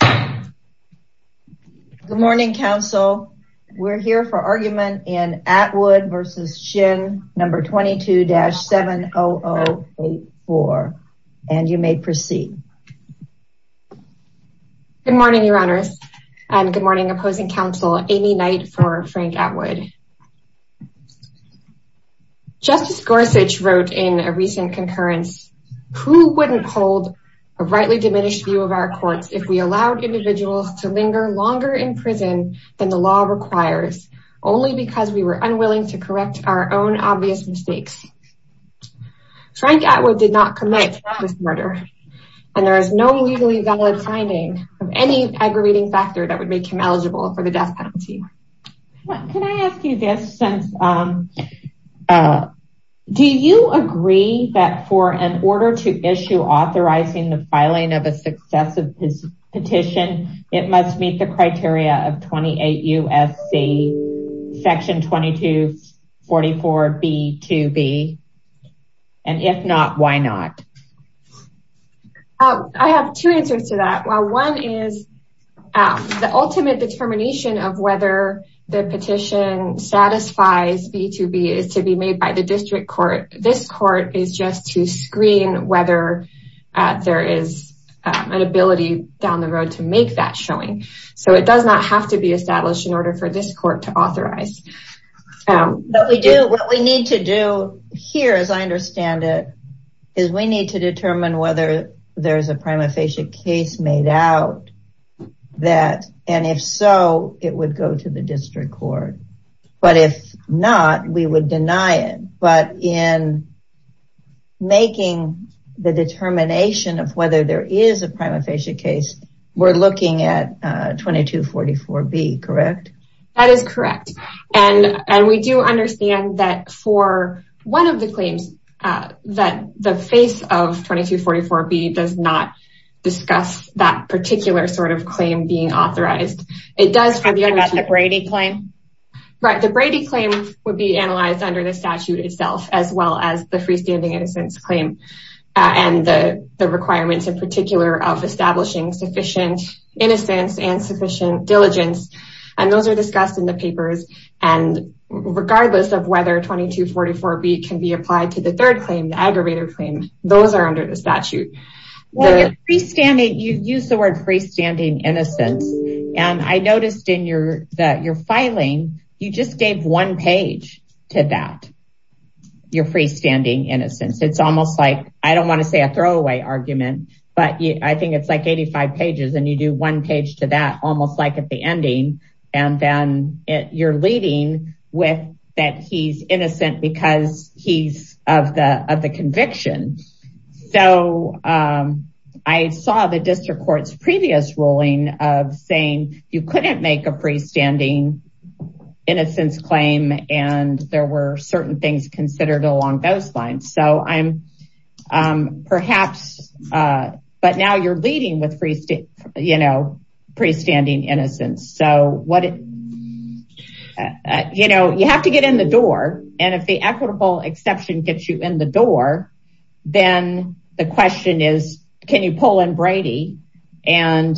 Good morning, counsel. We're here for argument in Atwood v. Shinn, No. 22-70084. And you may proceed. Good morning, Your Honors. And good morning, opposing counsel Amy Knight for Frank Atwood. Justice Gorsuch wrote in a recent concurrence, who wouldn't hold a rightly diminished view of our courts if we allowed individuals to linger longer in prison than the law requires only because we were unwilling to correct our own obvious mistakes. Frank Atwood did not commit this murder. And there is no legally valid finding of any aggravating factor that would make him eligible for the death penalty. Can I ask you this since, do you agree that for an order to issue authorizing the filing of a successive petition, it must meet the criteria of 28 U.S.C. Section 2244 B.2.B. And if not, why not? I have two answers to that. One is the ultimate determination of whether the petition satisfies B.2.B. is to be made by the district court. This court is just to screen whether there is an ability down the road to make that showing. So it does not have to be established in order for this court to authorize. What we need to do here, as I understand it, is we need to determine whether there's a prima facie case made out that, and if so, it would go to the district court. But if not, we would deny it. But in making the determination of whether there is a prima facie case, we're looking at 2244 B. Correct? That is correct. And we do understand that for one of the claims that the face of 2244 B. does not discuss that particular sort of claim being authorized. It does for the other two. The Brady claim? Right. The Brady claim would be analyzed under the statute itself, as well as the freestanding innocence claim and the requirements in particular of establishing sufficient innocence and sufficient diligence. And those are discussed in the papers. And regardless of whether 2244 B. can be applied to the third claim, the aggravated claim, those are under the statute. Well, you use the word freestanding innocence. And I noticed in your filing, you just gave one page to that, your freestanding innocence. It's almost like, I don't want to say a throwaway argument, but I think it's like 85 pages. And you do one page to that, almost like at the ending. And then you're leading with that he's innocent because he's of the conviction. So I saw the district court's previous ruling of saying you couldn't make a freestanding innocence claim, and there were certain things considered along those lines. So I'm perhaps, but now you're leading with freestanding innocence. So you have to get in the door. And if the equitable exception gets you in the door, then the question is, can you pull in Brady? But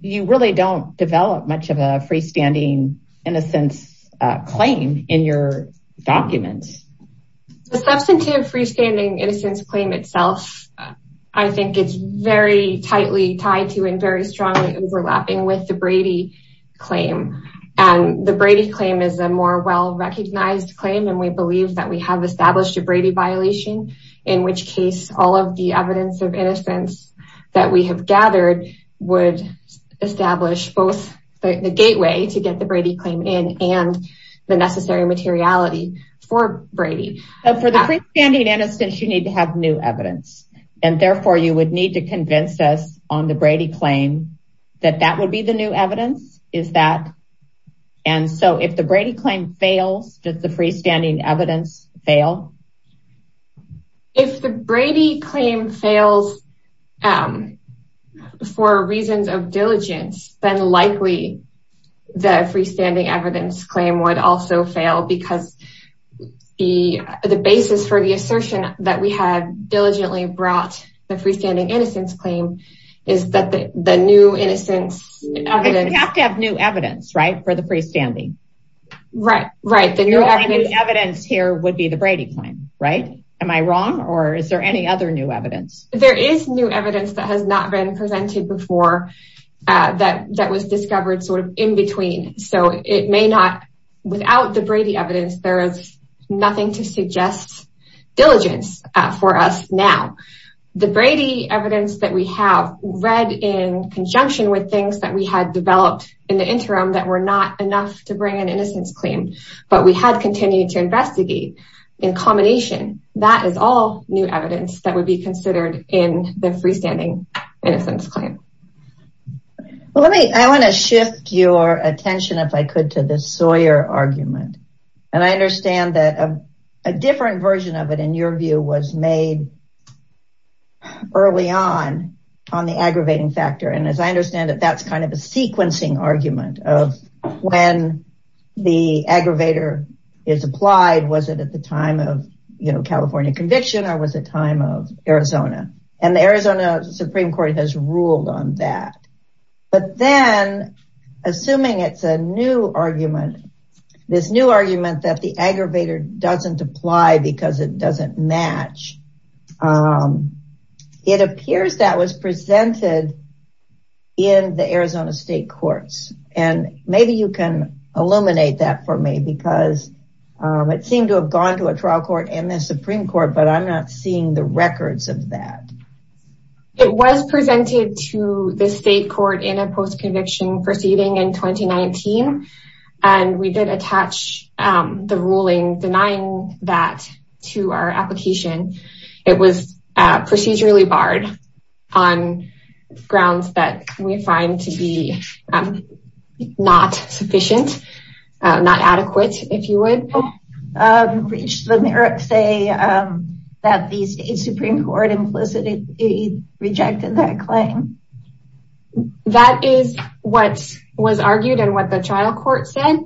you really don't develop much of a freestanding innocence claim in your documents. The substantive freestanding innocence claim itself, I think it's very tightly tied to and very strongly overlapping with the Brady claim. And the Brady claim is a more well-recognized claim. And we believe that we have established a Brady violation, in which case all of the evidence of innocence that we have gathered would establish both the gateway to get the Brady claim in and the necessary materiality for Brady. For the freestanding innocence, you need to have new evidence. And therefore, you would need to convince us on the Brady claim that that would be the new evidence, is that? And so if the Brady claim fails, does the freestanding evidence fail? If the Brady claim fails for reasons of diligence, then likely the freestanding evidence claim would also fail because the basis for the assertion that we had diligently brought the freestanding innocence claim is that the new innocence evidence... You have to have new evidence, right, for the freestanding. Right, right. The new evidence here would be the Brady claim, right? Am I wrong? Or is there any other new evidence? There is new evidence that has not been presented before that was discovered sort of in between. So it may not, without the Brady evidence, there is nothing to suggest diligence for us now. The Brady evidence that we have read in conjunction with things that we had developed in the interim that were not enough to bring an innocence claim, but we had continued to investigate in combination, that is all new evidence that would be considered in the freestanding innocence claim. I want to shift your attention, if I could, to the Sawyer argument. And I understand that a different version of it, in your view, was made early on, on the aggravating factor. And as I understand it, that's kind of a sequencing argument of when the aggravator is applied, was it at the time of California conviction, or was it time of Arizona? And the Arizona Supreme Court has ruled on that. But then, assuming it's a new argument, this new argument that the aggravator doesn't apply because it doesn't match, it appears that was presented in the Arizona state courts. And maybe you can illuminate that for me, because it seemed to have gone to a trial court and the Supreme Court, but I'm not seeing the records of that. It was presented to the state court in a post-conviction proceeding in 2019. And we did attach the ruling denying that to our application. It was procedurally barred on grounds that we find to be not sufficient, not adequate, if you would. Did the merits say that the state Supreme Court implicitly rejected that claim? That is what was argued and what the trial court said.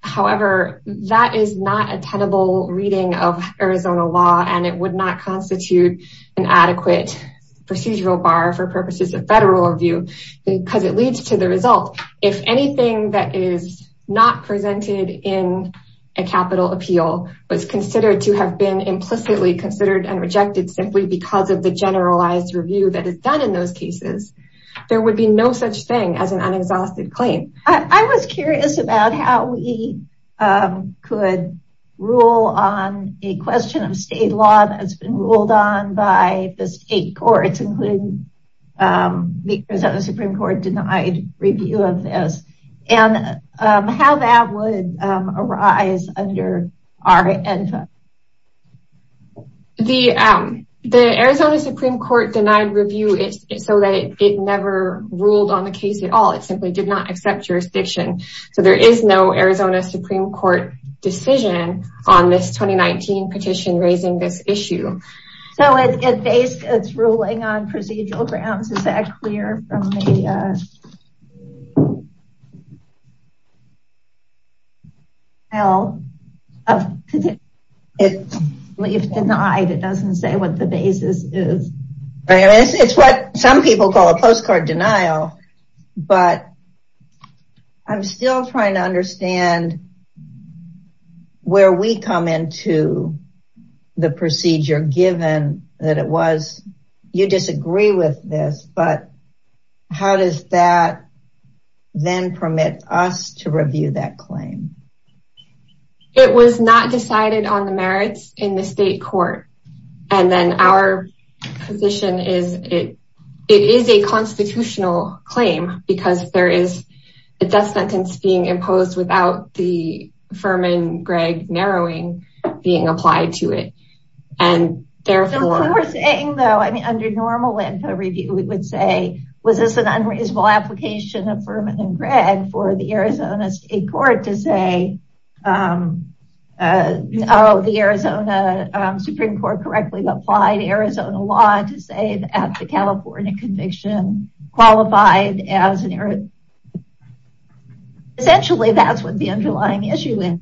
However, that is not a tenable reading of Arizona law, and it would not constitute an adequate procedural bar for purposes of federal review, because it leads to the result. If anything that is not presented in a capital appeal was considered to have been implicitly considered and rejected simply because of the generalized review that is done in those cases, there would be no such thing as an unexhausted claim. I was curious about how we could rule on a question of state law that's been ruled on by the state courts, including the Arizona Supreme Court denied review of this, and how that would arise under our NFA. The Arizona Supreme Court denied review so that it never ruled on the case at all. It simply did not accept jurisdiction. So there is no Arizona Supreme Court decision on this 2019 petition raising this issue. So it's ruling on procedural grounds. Is that clear from the denial? If denied, it doesn't say what the basis is. It's what some people call a postcard denial, but I'm still trying to understand where we come into the procedure, given that it was, you disagree with this, but how does that then permit us to review that claim? It was not decided on the merits in the state court. And then our position is it is a Furman-Gregg narrowing being applied to it. What we're saying though, under normal NFA review, we would say, was this an unreasonable application of Furman and Gregg for the Arizona state court to say, oh, the Arizona Supreme Court correctly applied Arizona law to say that the California conviction qualified as an error. Essentially, that's what the underlying issue is.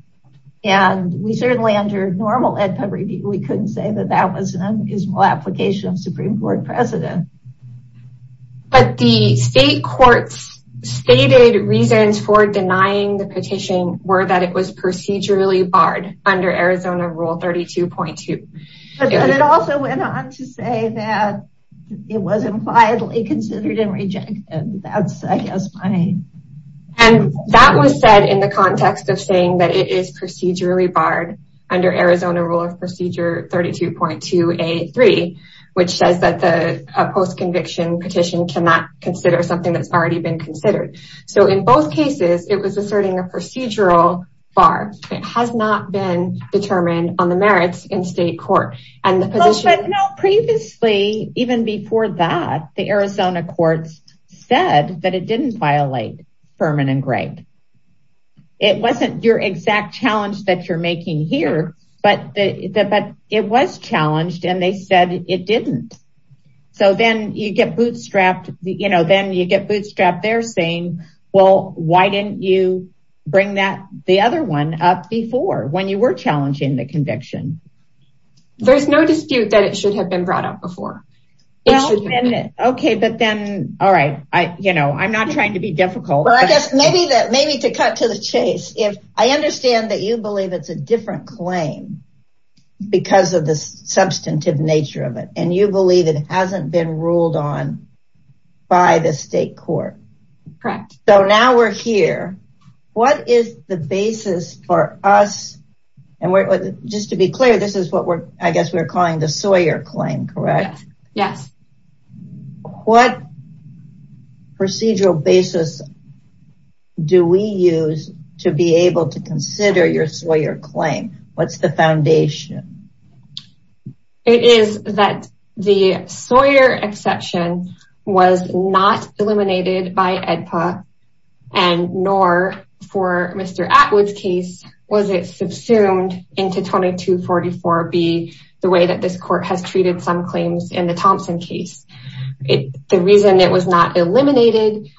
And we certainly under normal NFA review, we couldn't say that that was an unreasonable application of Supreme Court precedent. But the state courts stated reasons for denying the petition were that it was procedurally barred under Arizona rule 32.2. And it also went on to say that it was impliedly considered and rejected. And that was said in the context of saying that it is procedurally barred under Arizona rule of procedure 32.2 A3, which says that the post-conviction petition cannot consider something that's already been considered. So in both cases, it was asserting a procedural bar. It has not been determined on the merits in state court. Previously, even before that, the Arizona courts said that it didn't violate Furman and Gregg. It wasn't your exact challenge that you're making here, but it was challenged and they said it didn't. So then you get bootstrapped, you know, then you get bootstrapped. They're saying, well, why didn't you bring that the other one up before when you were challenging the conviction? There's no dispute that it should have been brought up before. Okay. But then, all right. I, you know, I'm not trying to be difficult. Well, I guess maybe that maybe to cut to the chase, if I understand that you believe it's a different claim because of the substantive nature of it, and you believe it hasn't been So now we're here. What is the basis for us? And just to be clear, this is what we're, I guess we're calling the Sawyer claim, correct? Yes. What procedural basis do we use to be able to consider your Sawyer claim? What's the foundation? It is that the Sawyer exception was not eliminated by AEDPA and nor for Mr. Atwood's case, was it subsumed into 2244B, the way that this court has treated some claims in the Thompson case. The reason it was not eliminated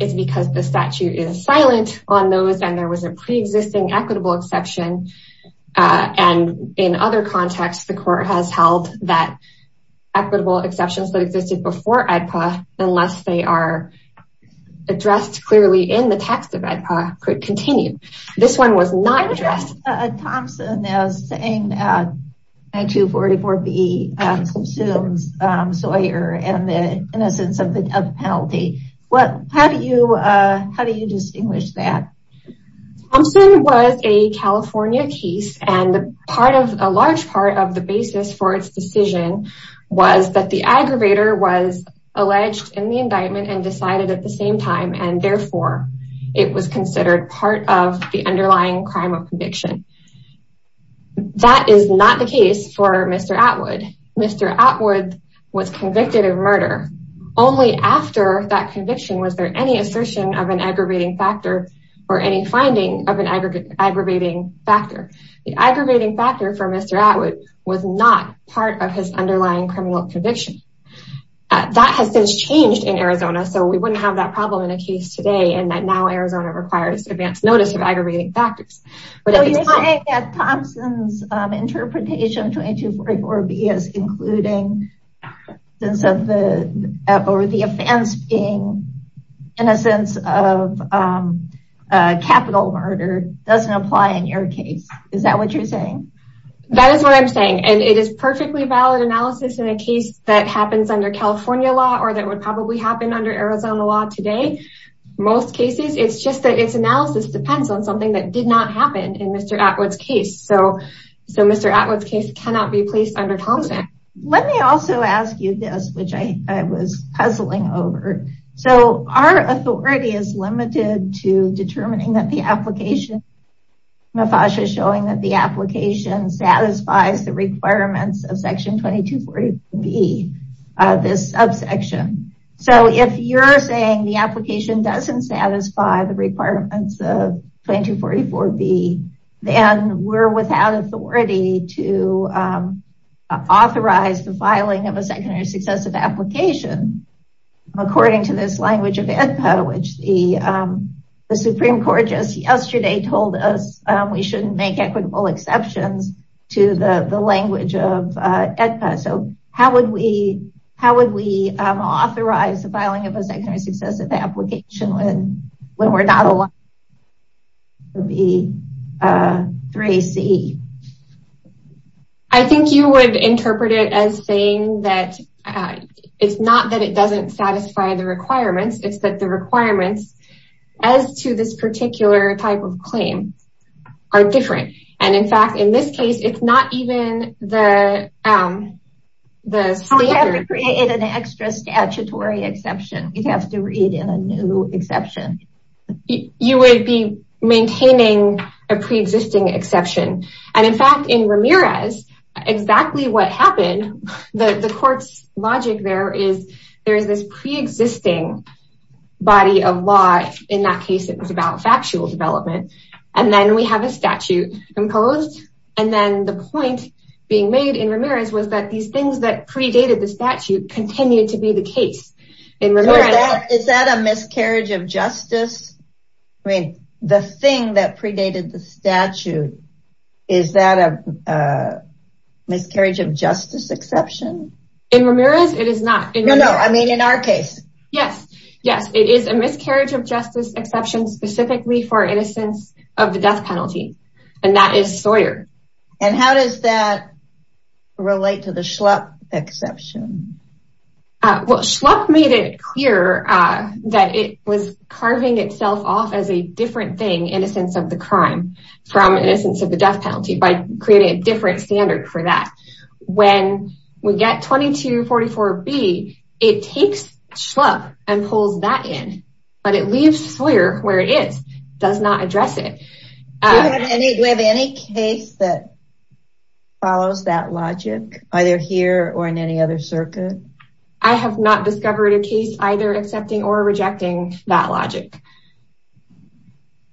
is because the statute is silent on those and there was pre-existing equitable exception. And in other contexts, the court has held that equitable exceptions that existed before AEDPA, unless they are addressed clearly in the text of AEDPA, could continue. This one was not addressed. Thompson is saying that 2244B consumes Sawyer and the innocence of the penalty. How do you distinguish that? Thompson was a California case and part of a large part of the basis for its decision was that the aggravator was alleged in the indictment and decided at the same time, and therefore it was considered part of the underlying crime of conviction. That is not the case for Mr. Atwood. Mr. Atwood was convicted of murder. Only after that conviction was there any assertion of an aggravating factor or any finding of an aggravating factor. The aggravating factor for Mr. Atwood was not part of his underlying criminal conviction. That has since changed in Arizona. So we wouldn't have that problem in a case today. And that now Arizona requires advance notice of aggravating factors. Thompson's interpretation of 2244B is including the offense being innocence of capital murder doesn't apply in your case. Is that what you're saying? That is what I'm saying. And it is perfectly valid analysis in a case that happens under California law or that would probably happen under Arizona law today. Most cases, it's just that its analysis depends on something that did not happen in Mr. Atwood's case. So Mr. Atwood's case cannot be placed under counseling. Let me also ask you this, which I was puzzling over. So our authority is limited to determining that the application showing that the application satisfies the requirements of Section 2244B, this subsection. So if you're saying the application doesn't satisfy the requirements of we're without authority to authorize the filing of a secondary successive application, according to this language of AEDPA, which the Supreme Court just yesterday told us we shouldn't make equitable exceptions to the language of AEDPA. So how would we authorize filing of a secondary successive application when we're not allowed to be 3C? I think you would interpret it as saying that it's not that it doesn't satisfy the requirements. It's that the requirements as to this particular type of claim are different. And in fact, in this case, it's not even the... You have to create an extra statutory exception. You'd have to read in a new exception. You would be maintaining a pre-existing exception. And in fact, in Ramirez, exactly what happened, the court's logic there is there's this pre-existing body of law. In that case, it was about factual development. And then we have a statute imposed. And then the point being made in Ramirez was that these things that predated the statute continued to be the case. Is that a miscarriage of justice? I mean, the thing that predated the statute, is that a miscarriage of justice exception? In Ramirez, it is not. No, no. I mean, in our case. Yes. Yes. It is a miscarriage of justice exception specifically for innocence of the death penalty. And that is Sawyer. And how does that relate to the Schlupp exception? Well, Schlupp made it clear that it was carving itself off as a different thing, innocence of the crime, from innocence of the death penalty, by creating a different standard for that. When we get 2244B, it takes Schlupp and pulls that in. But it leaves Sawyer where it is. Does not address it. Do you have any case that follows that logic, either here or in any other circuit? I have not discovered a case either accepting or rejecting that logic.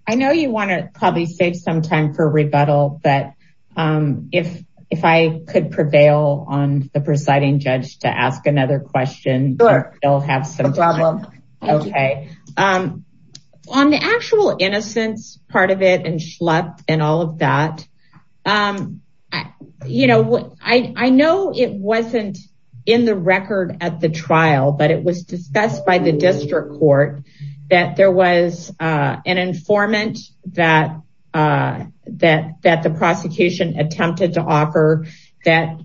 I know you want to probably save some time for rebuttal. But if I could prevail on the presiding judge to ask another question. Sure. No problem. Okay. On the actual innocence part of it, and Schlupp and all of that. I know it was not in the record at the trial, but it was discussed by the district court that there was an informant that the prosecution attempted to offer that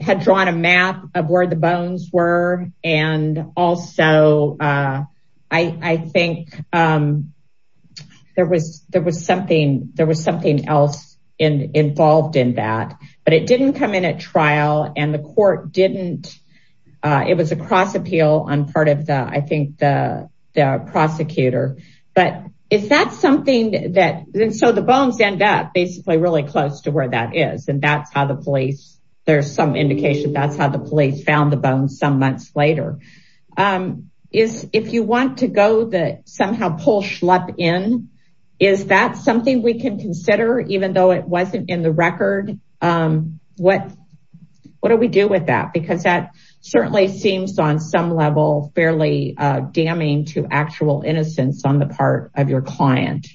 had drawn a map of where the bones were. And also, I think there was something else involved in that. But it did not come in at trial and the court did not, it was a cross appeal on part of the, I think, the prosecutor. But is that something that, so the bones end up basically really close where that is. And that's how the police, there's some indication that's how the police found the bones some months later. If you want to go that somehow pull Schlupp in, is that something we can consider even though it wasn't in the record? What do we do with that? Because that certainly seems on some level fairly damning to actual innocence on the part of your client.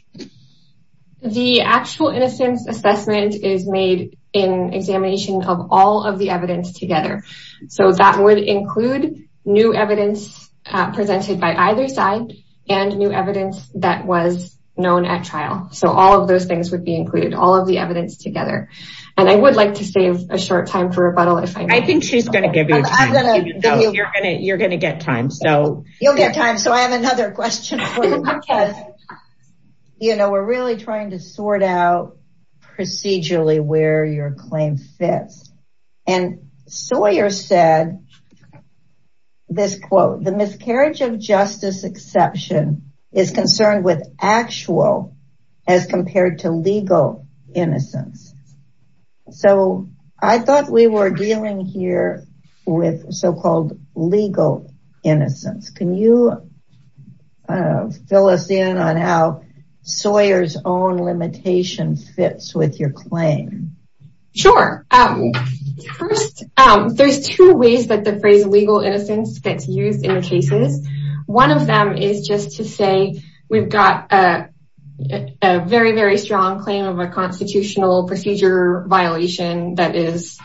The actual innocence assessment is made in examination of all of the evidence together. So that would include new evidence presented by either side and new evidence that was known at trial. So all of those things would be included, all of the evidence together. And I would like to save a short time for rebuttal if I may. I think she's going to give you time. You're going to get time. You'll get time. So I have another question for you. We're really trying to sort out procedurally where your claim fits. And Sawyer said this quote, the miscarriage of justice exception is concerned with actual as compared to legal innocence. So I thought we were dealing here with so-called legal innocence. Can you fill us in on how Sawyer's own limitation fits with your claim? Sure. First, there's two ways that the phrase legal innocence gets used in the cases. One of them is just to say we've got a very, very strong claim of a constitutional procedure violation that is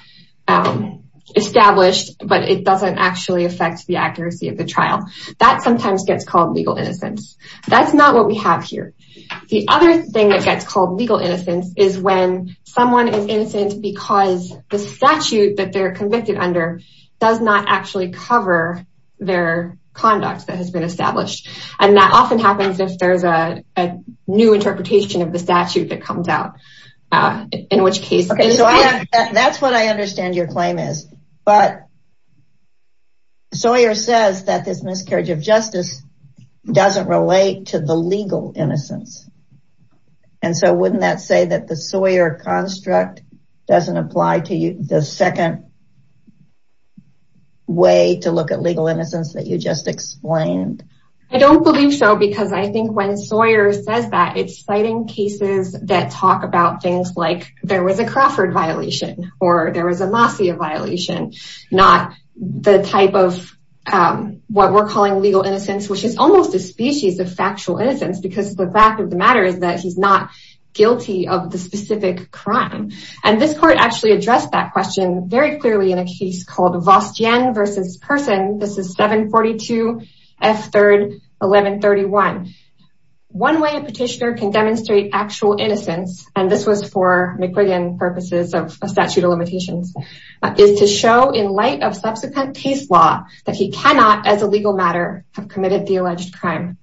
established, but it doesn't actually affect the accuracy of the trial. That sometimes gets called legal innocence. That's not what we have here. The other thing that gets called legal innocence is when someone is innocent because the statute that they're convicted under does not actually cover their conduct that has been established. And that often in which case. So that's what I understand your claim is. But Sawyer says that this miscarriage of justice doesn't relate to the legal innocence. And so wouldn't that say that the Sawyer construct doesn't apply to the second way to look at legal innocence that you just explained? I don't believe so, because I think when Sawyer says that, it's citing cases that talk about things like there was a Crawford violation or there was a Masia violation, not the type of what we're calling legal innocence, which is almost a species of factual innocence, because the fact of the matter is that he's not guilty of the specific crime. And this court actually addressed that question very clearly in a case called Vostyan versus Person. This is 742 F. 3rd, 1131. One way a petitioner can demonstrate actual innocence, and this was for McGuigan purposes of a statute of limitations, is to show in light of subsequent case law that he cannot as a legal matter have committed the alleged crime.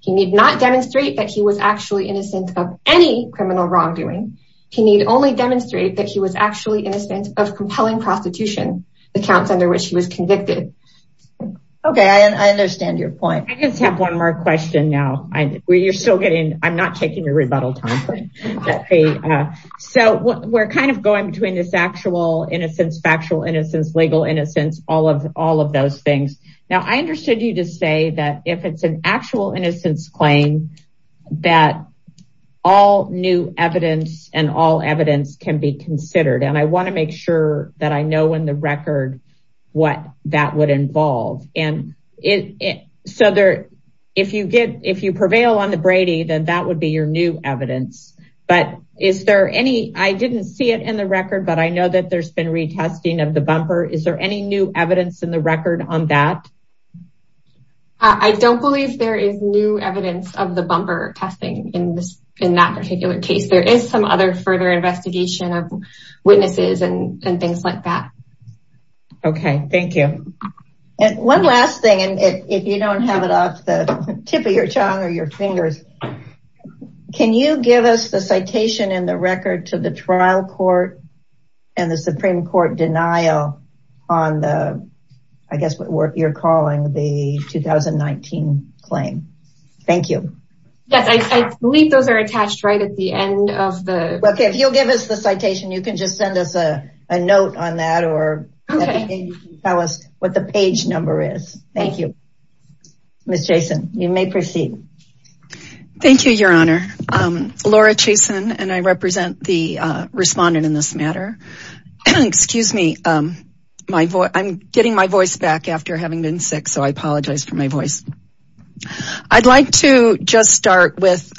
He need not demonstrate that he was actually innocent of any criminal wrongdoing. He need only demonstrate that he was actually innocent of compelling prostitution, the counts under which he was convicted. Okay, I understand your point. I just have one more question now. I'm not taking your rebuttal time. So we're kind of going between this actual innocence, factual innocence, legal innocence, all of those things. Now, I understood you to say that if it's an actual innocence claim, that all new evidence and all evidence can be considered. And I want to make sure that I know in the record what that would involve. If you prevail on the Brady, then that would be your new evidence. I didn't see it in the record, but I know that there's been retesting of the bumper. Is there any new evidence in the record on that? I don't believe there is new evidence of the bumper testing in that particular case. There is some other further investigation of Okay, thank you. And one last thing, and if you don't have it off the tip of your tongue or your fingers, can you give us the citation in the record to the trial court and the Supreme Court denial on the, I guess what you're calling the 2019 claim? Thank you. Yes, I believe those are attached right at the end of the... Okay. Tell us what the page number is. Thank you. Ms. Jason, you may proceed. Thank you, Your Honor. Laura Jason, and I represent the respondent in this matter. Excuse me, I'm getting my voice back after having been sick, so I apologize for my voice. I'd like to just start with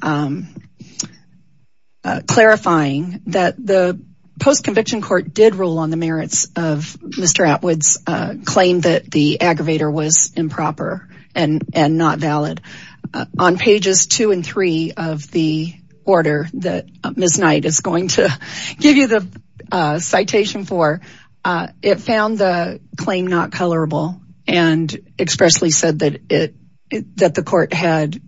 clarifying that the post-conviction court did rule on the merits of Mr. Atwood's claim that the aggravator was improper and not valid. On pages two and three of the order that Ms. Knight is going to give you the citation for, it found the claim not colorable and expressly said that the court had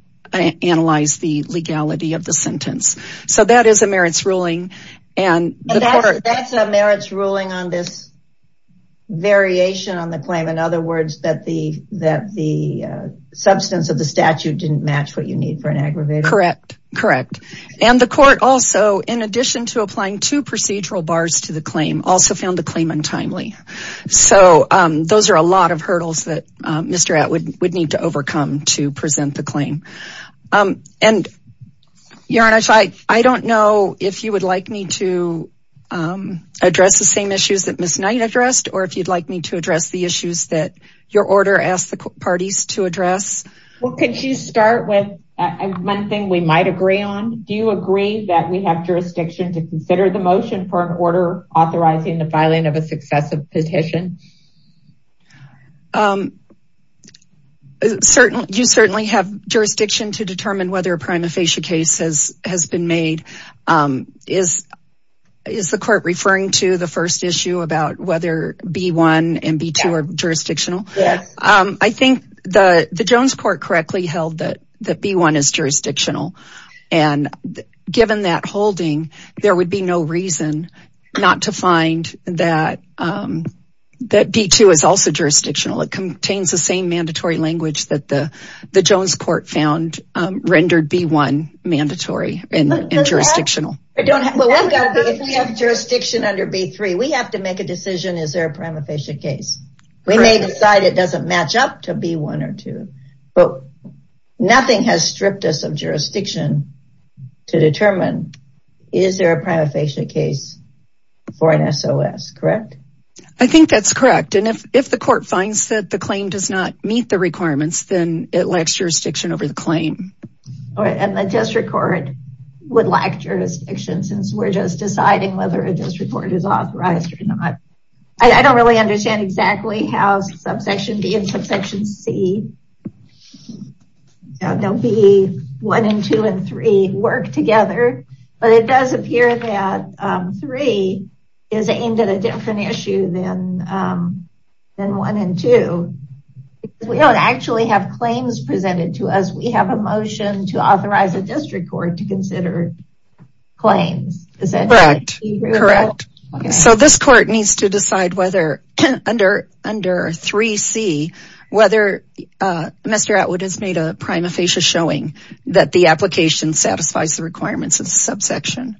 analyzed the legality of the sentence. So that is a merits ruling. And that's a merits ruling on this variation on the claim. In other words, that the substance of the statute didn't match what you need for an aggravator. Correct. Correct. And the court also, in addition to applying two procedural bars to the claim, also found the claim untimely. So those are a lot of hurdles that Mr. Atwood would need to overcome to present the claim. Your Honor, I don't know if you would like me to address the same issues that Ms. Knight addressed, or if you'd like me to address the issues that your order asked the parties to address. Well, could you start with one thing we might agree on? Do you agree that we have jurisdiction to consider the motion for an order authorizing the filing of a successive petition? You certainly have jurisdiction to determine whether a prima facie case has been made. Is the court referring to the first issue about whether B-1 and B-2 are jurisdictional? Yes. I think the Jones court correctly held that B-1 is jurisdictional. And given that holding, there would be no reason not to find that B-2 is also jurisdictional. It contains the same mandatory language that the Jones court found rendered B-1 mandatory and jurisdictional. If we have jurisdiction under B-3, we have to make a decision, is there a prima facie case? We may decide it doesn't match up to B-1 or B-2. But nothing has stripped us of jurisdiction to determine is there a prima facie case for an SOS, correct? I think that's correct. And if the court finds that the claim does not meet the requirements, then it lacks jurisdiction over the claim. And the district court would lack jurisdiction since we're just deciding whether a district court is authorized or not. I don't really understand exactly how subsection B and B-1 and B-3 work together, but it does appear that B-3 is aimed at a different issue than B-1 and B-2. We don't actually have claims presented to us. We have a motion to authorize a district court to consider claims. Correct. So this court needs to decide whether under B-3 whether Mr. Atwood has made a prima facie showing that the application satisfies the requirements of the subsection.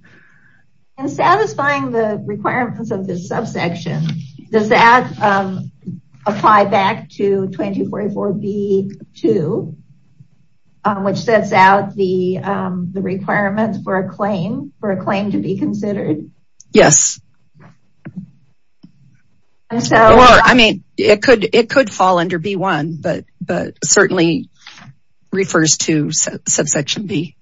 And satisfying the requirements of the subsection, does that apply back to 2244B-2 which sets out the requirements for a claim to be considered? Yes. Well, I mean, it could fall under B-1, but certainly refers to subsection B.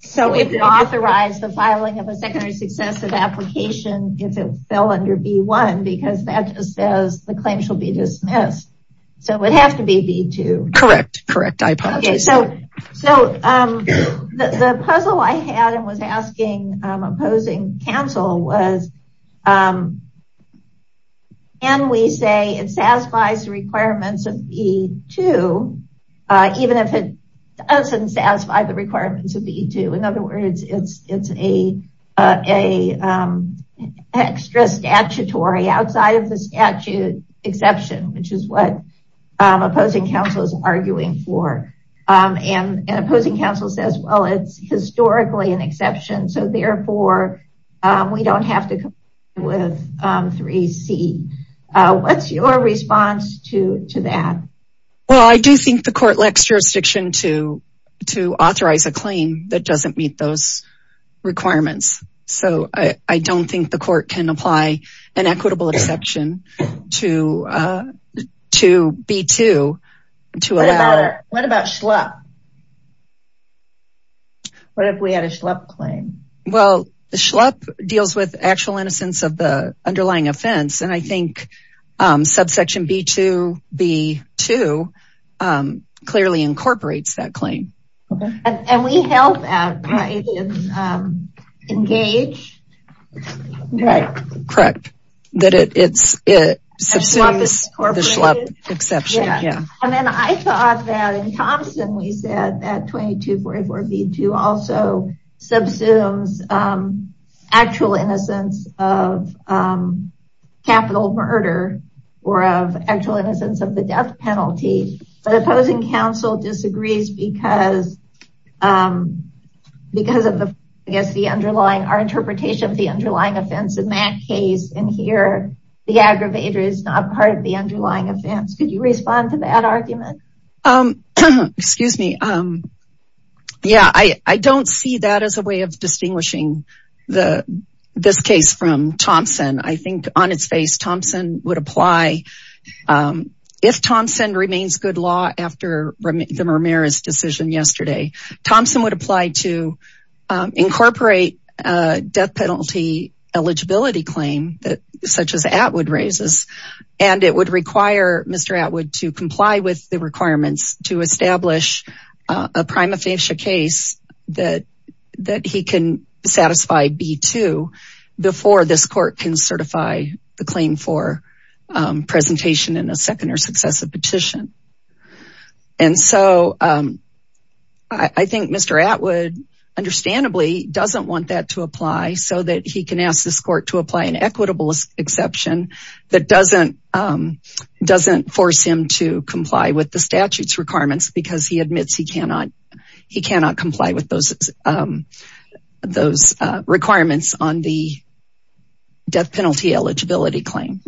So it would authorize the filing of a secondary successive application if it fell under B-1 because that just says the claim shall be dismissed. So it would have to be B-2. Correct. Correct. So the puzzle I had and was asking opposing counsel was, can we say it satisfies the requirements of B-2 even if it doesn't satisfy the requirements of B-2? In other words, it's a extra statutory outside of the statute exception, which is what opposing counsel is arguing for. And opposing counsel says, well, it's historically an exception. So therefore, we don't have to comply with 3C. What's your response to that? Well, I do think the court lacks jurisdiction to authorize a claim that doesn't meet those requirements. So I don't think the court can apply an equitable exception to B-2. What about Schlupp? What if we had a Schlupp claim? Well, the Schlupp deals with actual innocence of the underlying offense. And I think subsection B-2 clearly incorporates that claim. And we held that, right? It's engaged. Right. Correct. That it subsumes the Schlupp exception. And then I thought that in Thompson, we said that 2244B-2 also subsumes actual innocence of capital murder or of actual innocence of the death penalty. But opposing counsel disagrees because because of the, I guess, the underlying, our interpretation of the underlying offense in that case. And here, the aggravator is not part of the underlying offense. Could you respond to that argument? Excuse me. Yeah, I don't see that as a way of distinguishing this case from Thompson. I think on its face, Thompson would apply. If Thompson remains good law after the Ramirez decision yesterday, Thompson would apply to incorporate a death penalty eligibility claim that such as Atwood raises. And it would require Mr. Atwood to comply with the requirements to certify the claim for presentation in a second or successive petition. And so I think Mr. Atwood understandably doesn't want that to apply so that he can ask this court to apply an equitable exception that doesn't force him to comply with the statute's requirements because he admits he death penalty eligibility claim.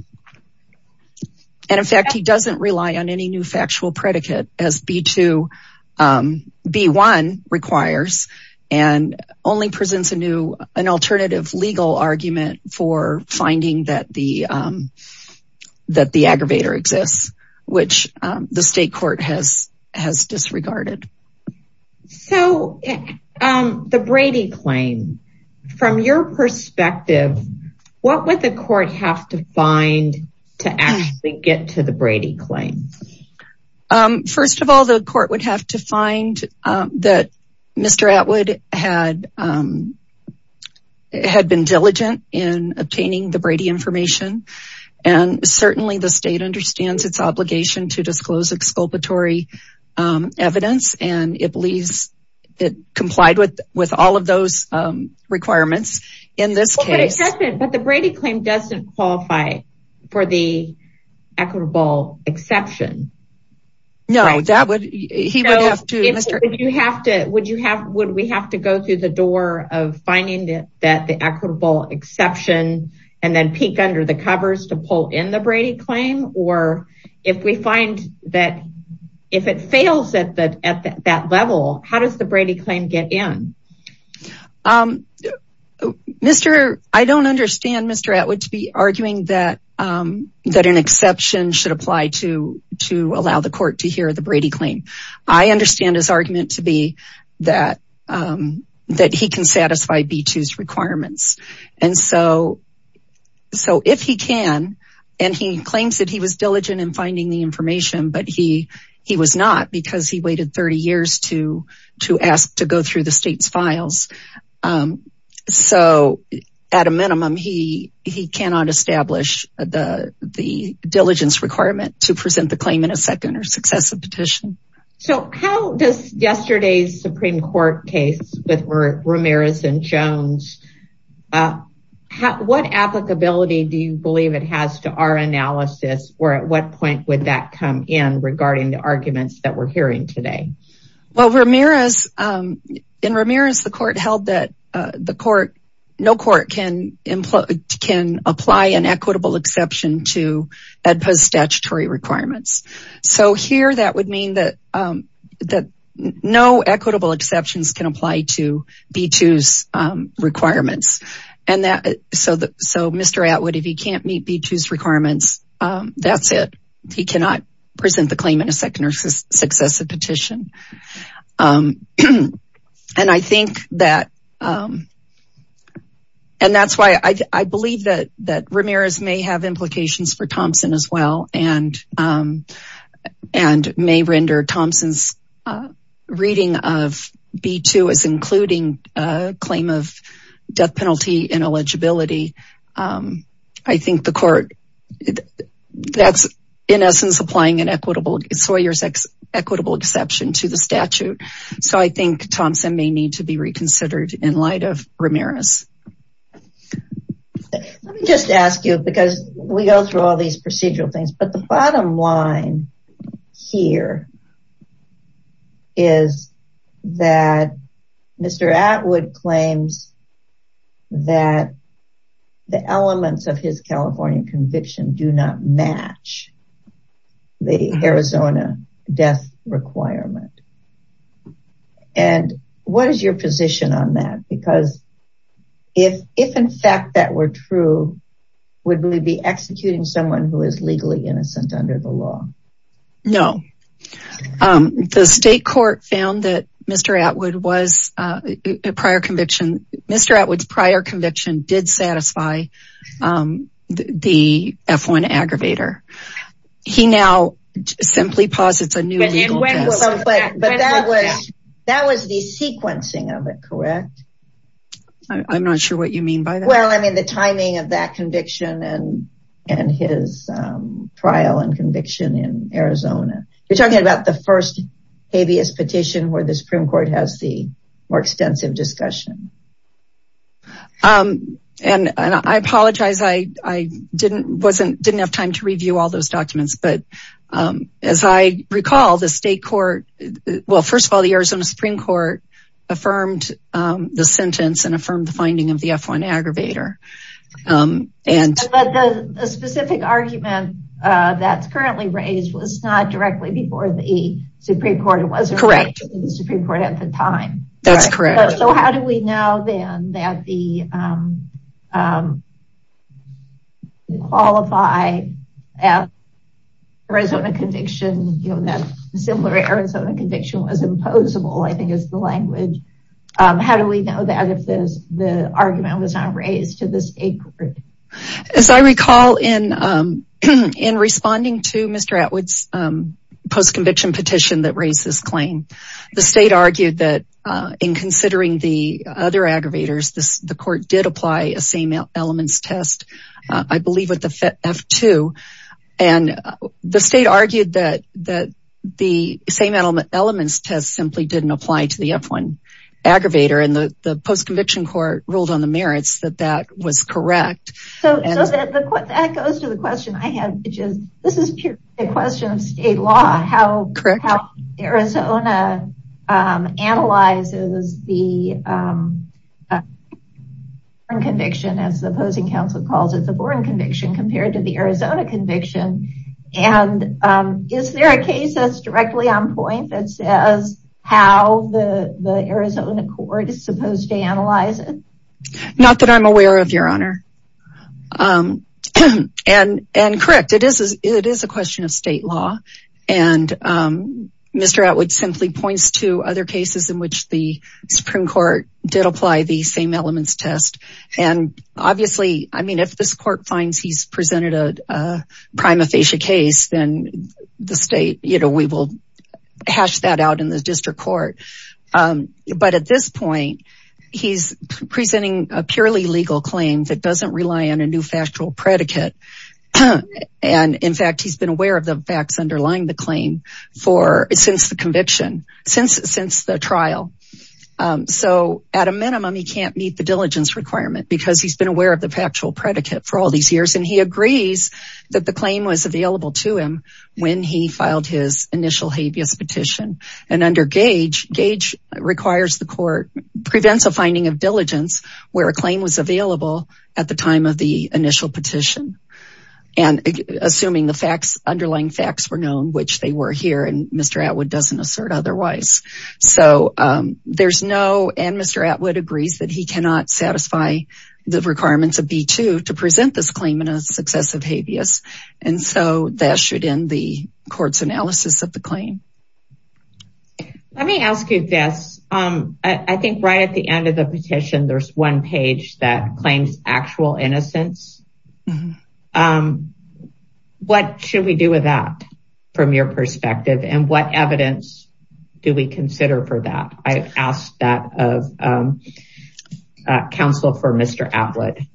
And in fact, he doesn't rely on any new factual predicate as B-2, B-1 requires, and only presents a new, an alternative legal argument for finding that the aggravator exists, which the state court has disregarded. So the Brady claim, from your perspective, what would the court have to find to actually get to the Brady claim? First of all, the court would have to find that Mr. Atwood had been diligent in obtaining the Brady information. And certainly the state understands its obligation to disclose exculpatory evidence. And it believes it complied with all of those requirements in this case. But the Brady claim doesn't qualify for the equitable exception. No, that would, he would have to, Mr. Atwood. Would you have, would we have to go through the door of finding that the equitable exception and then peek under the covers to pull in the Brady claim? Or if we find that, if it fails at that level, how does the Brady claim get in? I don't understand Mr. Atwood to be arguing that an exception should apply to allow the court to hear the Brady claim. I understand his argument to be that he can satisfy B-2's requirements. And so, so if he can, and he claims that he was diligent in finding the information, but he, he was not because he waited 30 years to, to ask to go through the state's files. So at a minimum, he, he cannot establish the, the diligence requirement to present the claim in a second or successive petition. So how does yesterday's Supreme Court case with Ramirez and Jones, what applicability do you believe it has to our analysis? Or at what point would that come in regarding the arguments that we're hearing today? Well, Ramirez, in Ramirez, the court held that the court, no court can, can apply an equitable exception to EDPA's statutory requirements. So here that would mean that, that no equitable exceptions can apply to B-2's requirements. And that, so, so Mr. Atwood, if he can't meet B-2's requirements, that's it. He cannot present the claim in a second or successive petition. And I think that, and that's why I believe that, that Ramirez may have implications for Thompson as well. And, and may render Thompson's reading of B-2 as including a claim of death penalty and eligibility. I think the court, that's in essence, applying an equitable, Sawyer's equitable exception to the statute. So I think Thompson may need to be reconsidered in light of Ramirez. Let me just ask you, because we go through all these procedural things, but the bottom line here is that Mr. Atwood claims that the elements of his California conviction do not match the Arizona death requirement. And what is your executing someone who is legally innocent under the law? No, the state court found that Mr. Atwood was a prior conviction. Mr. Atwood's prior conviction did satisfy the F-1 aggravator. He now simply posits a new legal test. But that was the sequencing of it, correct? I'm not sure what you mean by that. Well, I mean, the timing of that conviction and, and his trial and conviction in Arizona. You're talking about the first habeas petition where the Supreme Court has the more extensive discussion. And I apologize. I didn't, wasn't, didn't have time to review all those documents, but as I recall, the state court, well, first of all, the Arizona Supreme Court affirmed the sentence and affirmed the finding of the F-1 aggravator. But the specific argument that's currently raised was not directly before the Supreme Court. It wasn't directly before the Supreme Court at the time. That's correct. So how do we know then that the, um, um, qualify at Arizona conviction, you know, that similar Arizona conviction was imposable, I think is the language. Um, how do we know that if this, the argument was not raised to the state? As I recall in, um, in responding to Mr. Atwood's, um, post-conviction petition that raised this claim, the state argued that, uh, in considering the other aggravators, this, the court did apply a same elements test, uh, I believe with the F-2 and the state argued that, that the same element elements test simply didn't apply to the F-1 aggravator. And the post-conviction court ruled on the merits that that was correct. So that goes to the question I had, which is, this is purely a question of state law. How Arizona, um, analyzes the, um, conviction as the opposing counsel calls it, the foreign conviction compared to the Arizona conviction. And, um, is there a case that's directly on point that says how the Arizona court is supposed to analyze it? Not that I'm aware of your honor. Um, and, and correct. It is, it is a question of state law. And, um, Mr. Atwood simply points to other cases in which the Supreme court did apply the same elements test. And obviously, I mean, if this court finds he's presented a, a prima facie case, then the state, you know, we will hash that out in the district court. Um, but at this point he's presenting a purely legal claim that doesn't rely on a new factual predicate. And in fact, he's been aware of the facts underlying the claim for, since the conviction since, since the trial. Um, so at a minimum, he can't meet the diligence requirement because he's been aware of the factual predicate for all these years. And he agrees that the claim was available to him when he filed his initial habeas petition and under gauge gauge requires the court prevents a finding of diligence where a claim was available at the time of the initial petition. And assuming the facts underlying facts were known, which they were here and Mr. Atwood doesn't assert otherwise. So, um, there's no, and Mr. Atwood agrees that he cannot satisfy the requirements of B2 to present this claim in a successive habeas. And so that should end the court's analysis of the claim. Let me ask you this. Um, I think right at the end of the petition, there's one page that claims actual innocence. Um, what should we do with that from your perspective and what evidence do we consider for that? I asked that of, um, uh, counsel for Mr. Atwood.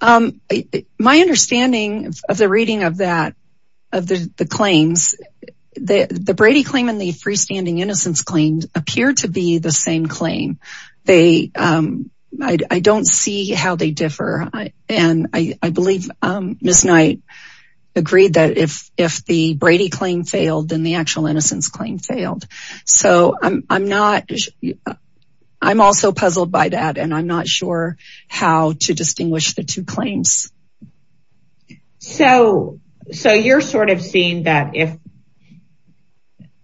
Um, my understanding of the reading of that, of the claims, the Brady claim and the freestanding innocence claims appear to be the same claim. They, um, I don't see how they differ. And I, I believe, um, Ms. Knight agreed that if, if the Brady claim failed, then the actual innocence failed. So I'm, I'm not, I'm also puzzled by that and I'm not sure how to distinguish the two claims. So, so you're sort of seeing that if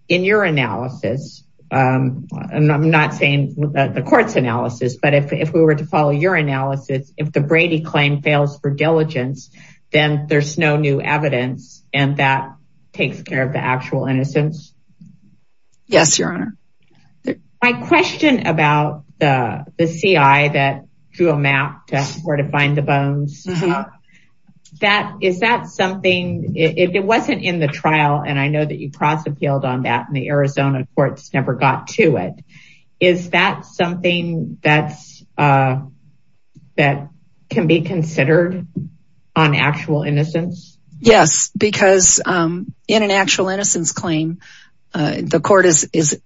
in your analysis, um, and I'm not saying the court's analysis, but if, if we were to follow your analysis, if the Brady claim fails for diligence, then there's no new evidence. And that takes care of the actual innocence. Yes, your honor. My question about the, the CI that drew a map to where to find the bones, that is that something it wasn't in the trial. And I know that you cross appealed on that and the Arizona courts never got to it. Is that something that's, uh, that can be considered on actual innocence? Yes, because, um, in an actual innocence claim, uh, the court is, is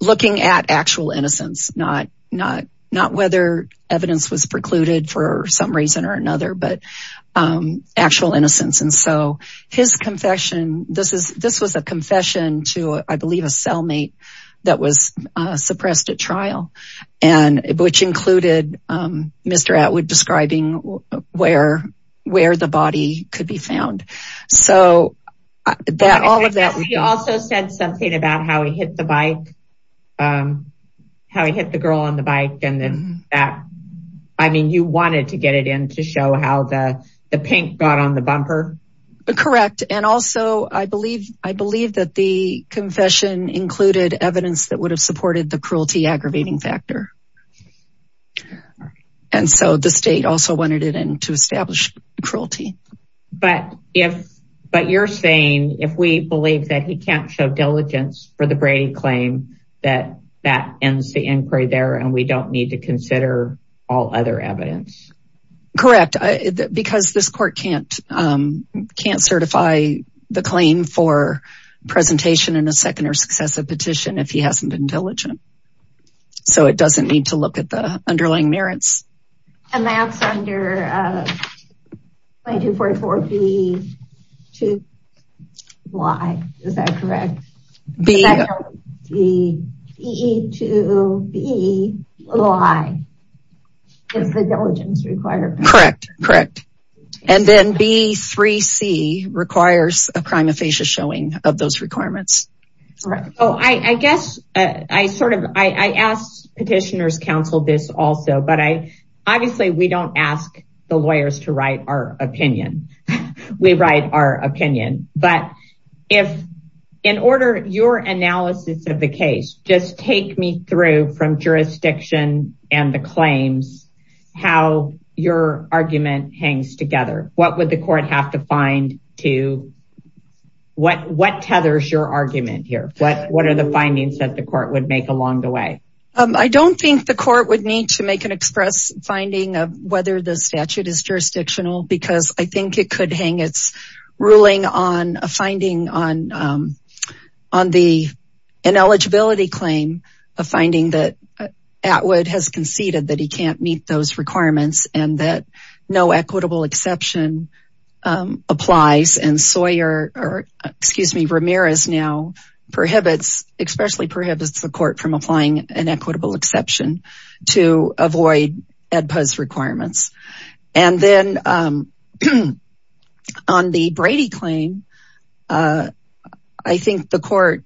looking at actual innocence, not, not, not whether evidence was precluded for some reason or another, but, um, actual innocence. And so his confession, this is, this was a confession to, I believe, a cellmate that was suppressed at trial and which included, um, Mr. Atwood describing where, where the body could be found. So that all of that, we also said something about how he hit the bike, um, how he hit the girl on the bike. And then that, I mean, you wanted to get it in to show how the pink got on the bumper. Correct. And also I believe, I believe that the confession included evidence that would have supported the cruelty aggravating factor. And so the state also wanted it in to establish cruelty. But if, but you're saying if we believe that he can't show diligence for the Brady claim, that, that ends the inquiry there and we don't need to consider all other evidence. Correct. Because this court can't, um, can't certify the claim for presentation in a second or successive petition if he hasn't been diligent. So it doesn't need to look at the underlying merits. And that's under, uh, 2244B2Y. Is that correct? B-E-E-2-B-Y is the diligence requirement. Correct. Correct. And then B3C requires a I asked petitioners counsel this also, but I, obviously we don't ask the lawyers to write our opinion. We write our opinion. But if in order your analysis of the case, just take me through from jurisdiction and the claims, how your argument hangs together. What would the court have to find to what, what tethers your argument here? What, what are the findings that the court would make along the way? Um, I don't think the court would need to make an express finding of whether the statute is jurisdictional because I think it could hang its ruling on a finding on, um, on the ineligibility claim, a finding that Atwood has conceded that he can't meet those applies and Sawyer or excuse me, Ramirez now prohibits, especially prohibits the court from applying an equitable exception to avoid EDPA's requirements. And then, um, on the Brady claim, uh, I think the court,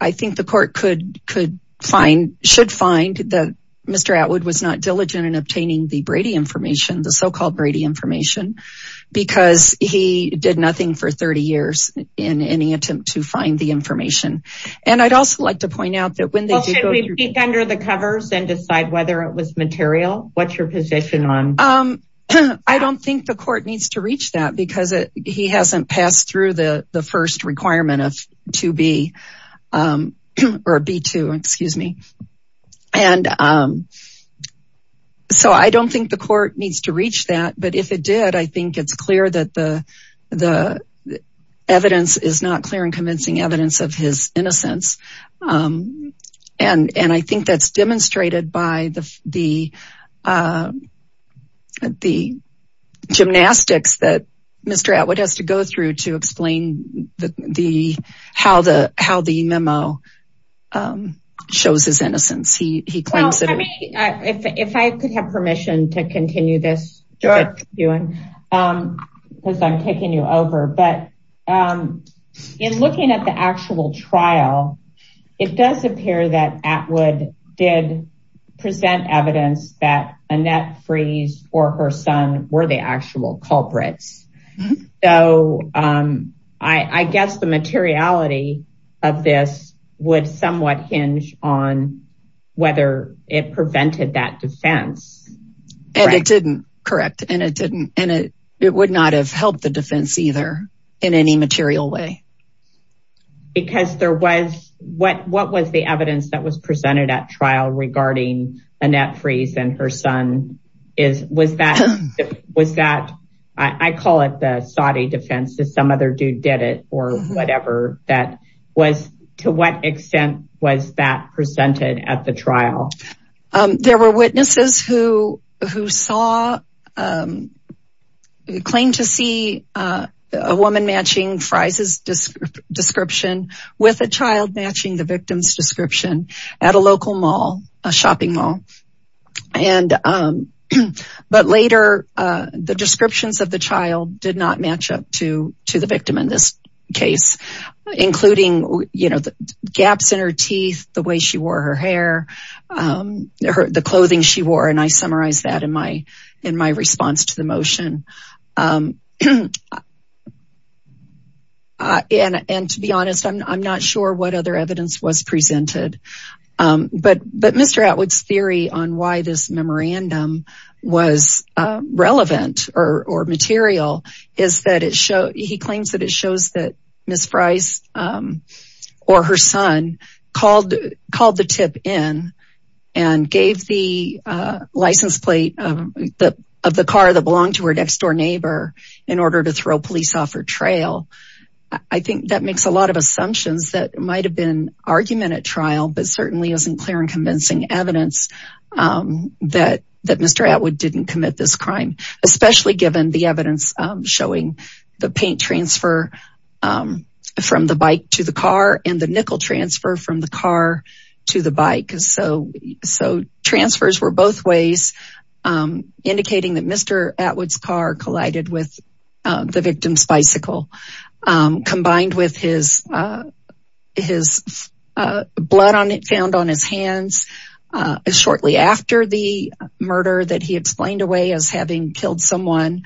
I think the court could, could find, should find that Mr. Atwood was not in obtaining the Brady information, the so-called Brady information, because he did nothing for 30 years in any attempt to find the information. And I'd also like to point out that when they go under the covers and decide whether it was material, what's your position on, um, I don't think the court needs to reach that because it, he hasn't passed through the first requirement of to be, um, or B2, excuse me. And, um, so I don't think the court needs to reach that, but if it did, I think it's clear that the, the evidence is not clear and convincing evidence of his innocence. Um, and, and I think that's demonstrated by the, the, um, the gymnastics that Mr. Atwood has to go through to explain the, the, how the, how the memo, um, shows his innocence. He, he claims that. Well, I mean, if, if I could have permission to continue this, um, because I'm taking you over, but, um, in looking at the actual trial, it does appear that Atwood did present evidence that or her son were the actual culprits. So, um, I, I guess the materiality of this would somewhat hinge on whether it prevented that defense. And it didn't correct. And it didn't, and it, it would not have helped the defense either in any material way. Because there was what, what was the evidence that was presented at trial regarding Annette Frese and her son is, was that, was that, I call it the Saudi defense to some other dude did it or whatever that was to what extent was that presented at the trial? There were witnesses who, who saw, um, claimed to see, uh, a woman matching Frese's description with a child matching the victim's description at a local mall, a shopping mall. And, um, but later, uh, the descriptions of the child did not match up to, to the victim in this case, including, you know, the gaps in her teeth, the way she wore her hair, um, her, the clothing she wore. And I summarized that in my, in my response to the motion. Um, and, and to be honest, I'm not sure what other evidence was presented. Um, but, but Mr. Atwood's theory on why this memorandum was, uh, relevant or, or material is that it shows, he claims that it shows that Ms. Frese, um, or her son called, called the tip in and gave the, uh, license plate of the, of the car that belonged to her next door neighbor in order to throw police off her trail. I think that makes a lot of assumptions that might've been argument at trial, but certainly isn't clear and convincing evidence, um, that, that Mr. Atwood didn't commit this crime, especially given the evidence, um, showing the paint transfer, um, from the bike to the car and the nickel transfer from the car to the bike. So, so transfers were both ways, um, indicating that Mr. Atwood's car collided with, uh, the victim's bicycle, um, combined with his, uh, his, uh, murder that he explained away as having killed someone,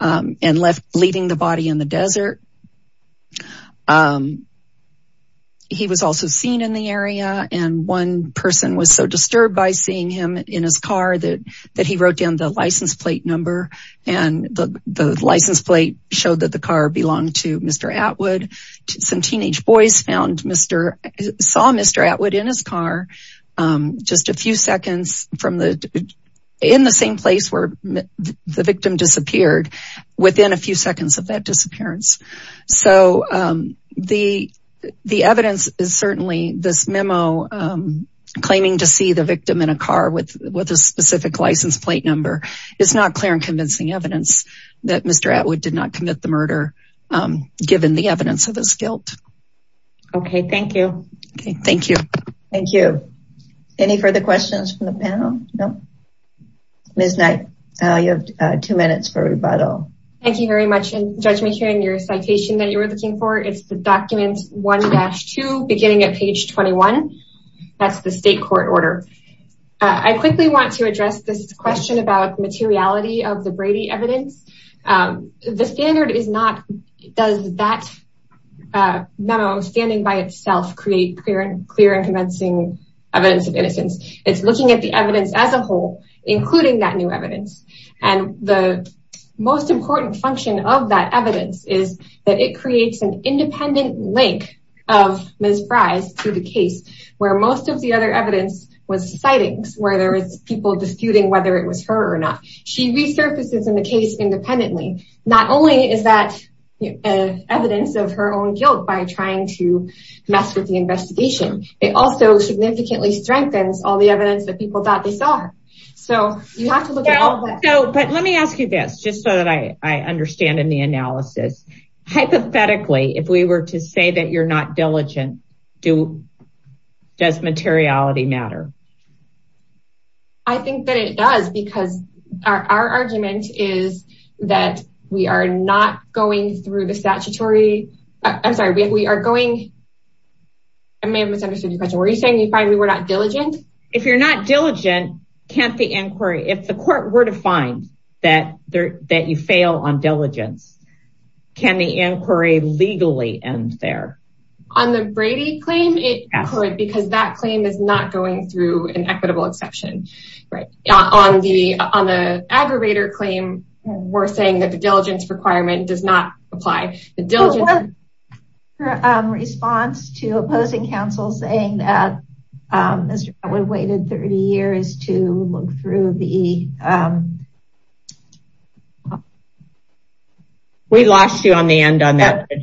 um, and left leaving the body in the desert. Um, he was also seen in the area and one person was so disturbed by seeing him in his car that, that he wrote down the license plate number and the, the license plate showed that the car belonged to Mr. Atwood. Some teenage boys found Mr., saw Mr. Atwood in his car, um, just a few seconds from the, in the same place where the victim disappeared within a few seconds of that disappearance. So, um, the, the evidence is certainly this memo, um, claiming to see the victim in a car with, with a specific license plate number. It's not clear and convincing evidence that Mr. Atwood did not commit the murder, um, given the evidence of this guilt. Okay. Thank you. Okay. Thank you. Thank you. Any further questions from the panel? Nope. Ms. Knight, uh, you have, uh, two minutes for rebuttal. Thank you very much. And Judge McKeon, your citation that you were looking for, it's the document 1-2 beginning at page 21. That's the state court order. Uh, I quickly want to address this question about materiality of the Brady evidence. Um, the standard is not, does that, uh, memo standing by itself, create clear and clear and convincing evidence of innocence. It's looking at the evidence as a whole, including that new evidence. And the most important function of that evidence is that it creates an independent link of Ms. Fries to the case where most of the other evidence was sightings, where there was people disputing whether it was her or not. She resurfaces in the case independently. Not only is that evidence of her own guilt by trying to mess with the investigation, it also significantly strengthens all the evidence that people thought they saw her. So you have to look at all of that. So, but let me ask you this, just so that I understand in the analysis, hypothetically, if we were to say that you're not diligent, do, does materiality matter? I think that it does because our argument is that we are not going through the statutory, I'm sorry, we are going, I may have misunderstood your question. Were you saying you find we were not diligent? If you're not diligent, can't the inquiry, if the court were to find that there, that you fail on diligence, can the inquiry legally end there? On the Brady claim, it could, because that claim is not going through an equitable exception. Right. On the, on the aggravator claim, we're saying that the diligence requirement does not apply. The diligence response to opposing counsel saying that we've waited 30 years to look through the. We lost you on the end on that. We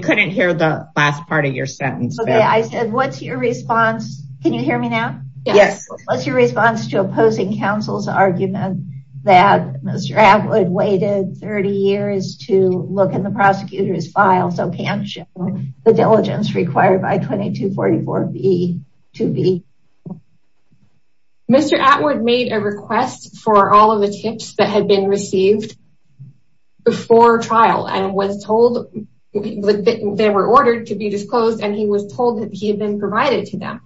couldn't hear the last part of your sentence. Okay. I said, what's your response? Can you hear me now? Yes. What's your response to opposing counsel's argument that Mr. Atwood waited 30 years to look in the prosecutor's file, so can the diligence required by 2244B to be. Mr. Atwood made a request for all of the tips that had been received before trial and was told that they were ordered to be disclosed. And he was told that he had been provided to them.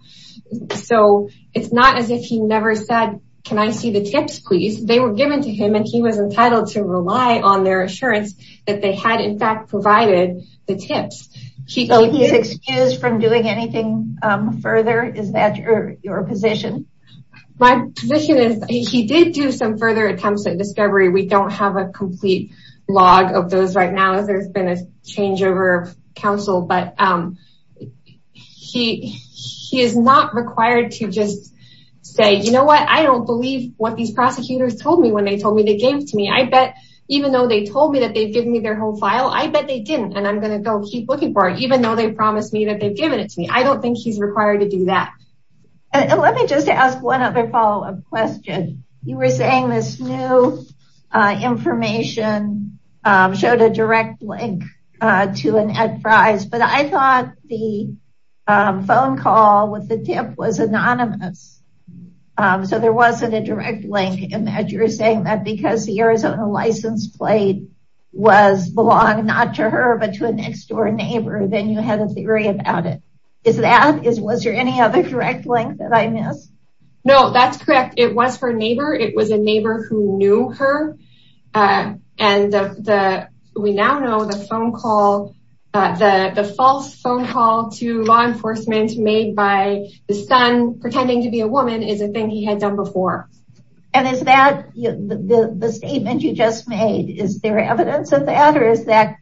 So it's not as if he never said, can I see the tips, please? They were given to him and he was entitled to rely on their assurance that they had in fact provided the tips. He is excused from doing anything further. Is that your position? My position is he did do some further attempts at discovery. We don't have a complete log of those right now as there's been a change over counsel, but he, he is not required to just say, you know what? I don't believe what these prosecutors told me when they told me they gave to me. I bet even though they told me that they've given me their whole file, I bet they didn't. And I'm going to go keep looking for it, even though they promised me that they've given it to me. I don't think he's required to do that. And let me just ask one other follow up question. You were saying this new information showed a direct link to an enterprise, but I thought the phone call with the tip was anonymous. So there wasn't a direct link in that you're saying that because the Arizona license plate was belong not to her, but to a next door neighbor, then you had a theory about it. Is that is, was there any other direct link that I missed? No, that's correct. It was her neighbor. It was a neighbor who knew her. And the, we now know the phone call, the false phone call to law enforcement made by the son pretending to be a woman is a the statement you just made. Is there evidence of that? Or is that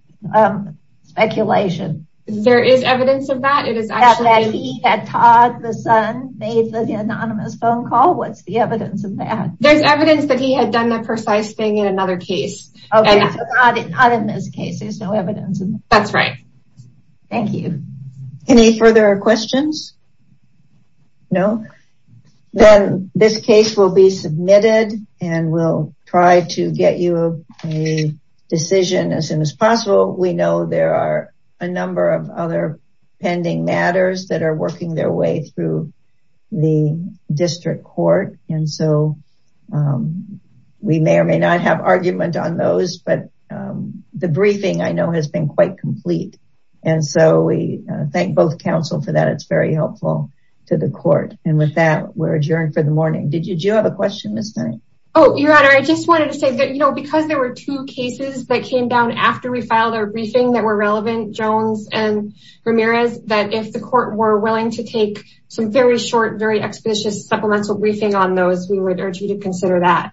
speculation? There is evidence of that. It is that Todd, the son made the anonymous phone call. What's the evidence of that? There's evidence that he had done that precise thing in another case. Not in this case. There's no evidence. That's right. Thank you. Any further questions? No, then this case will be submitted and we'll try to get you a decision as soon as possible. We know there are a number of other pending matters that are working their way through the district court. And so we may or may not have argument on those, but the briefing I know has been quite complete. And so we thank both counsel for that. It's very helpful to the court. And with that, we're adjourned for the morning. Did you, did you have a question Ms. Knight? Oh, your honor. I just wanted to say that, you know, because there were two cases that came down after we filed our briefing that were relevant, Jones and Ramirez, that if the court were willing to take some very short, very expeditious supplemental briefing on those, we would urge you to consider that.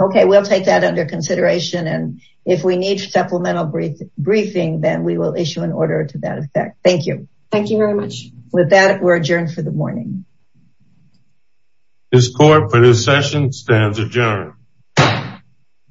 Okay. We'll take that under consideration. And if we need supplemental brief briefing, then we will issue an order to that effect. Thank you. Thank you very much. With that, we're adjourned for the morning. This court for this session stands adjourned.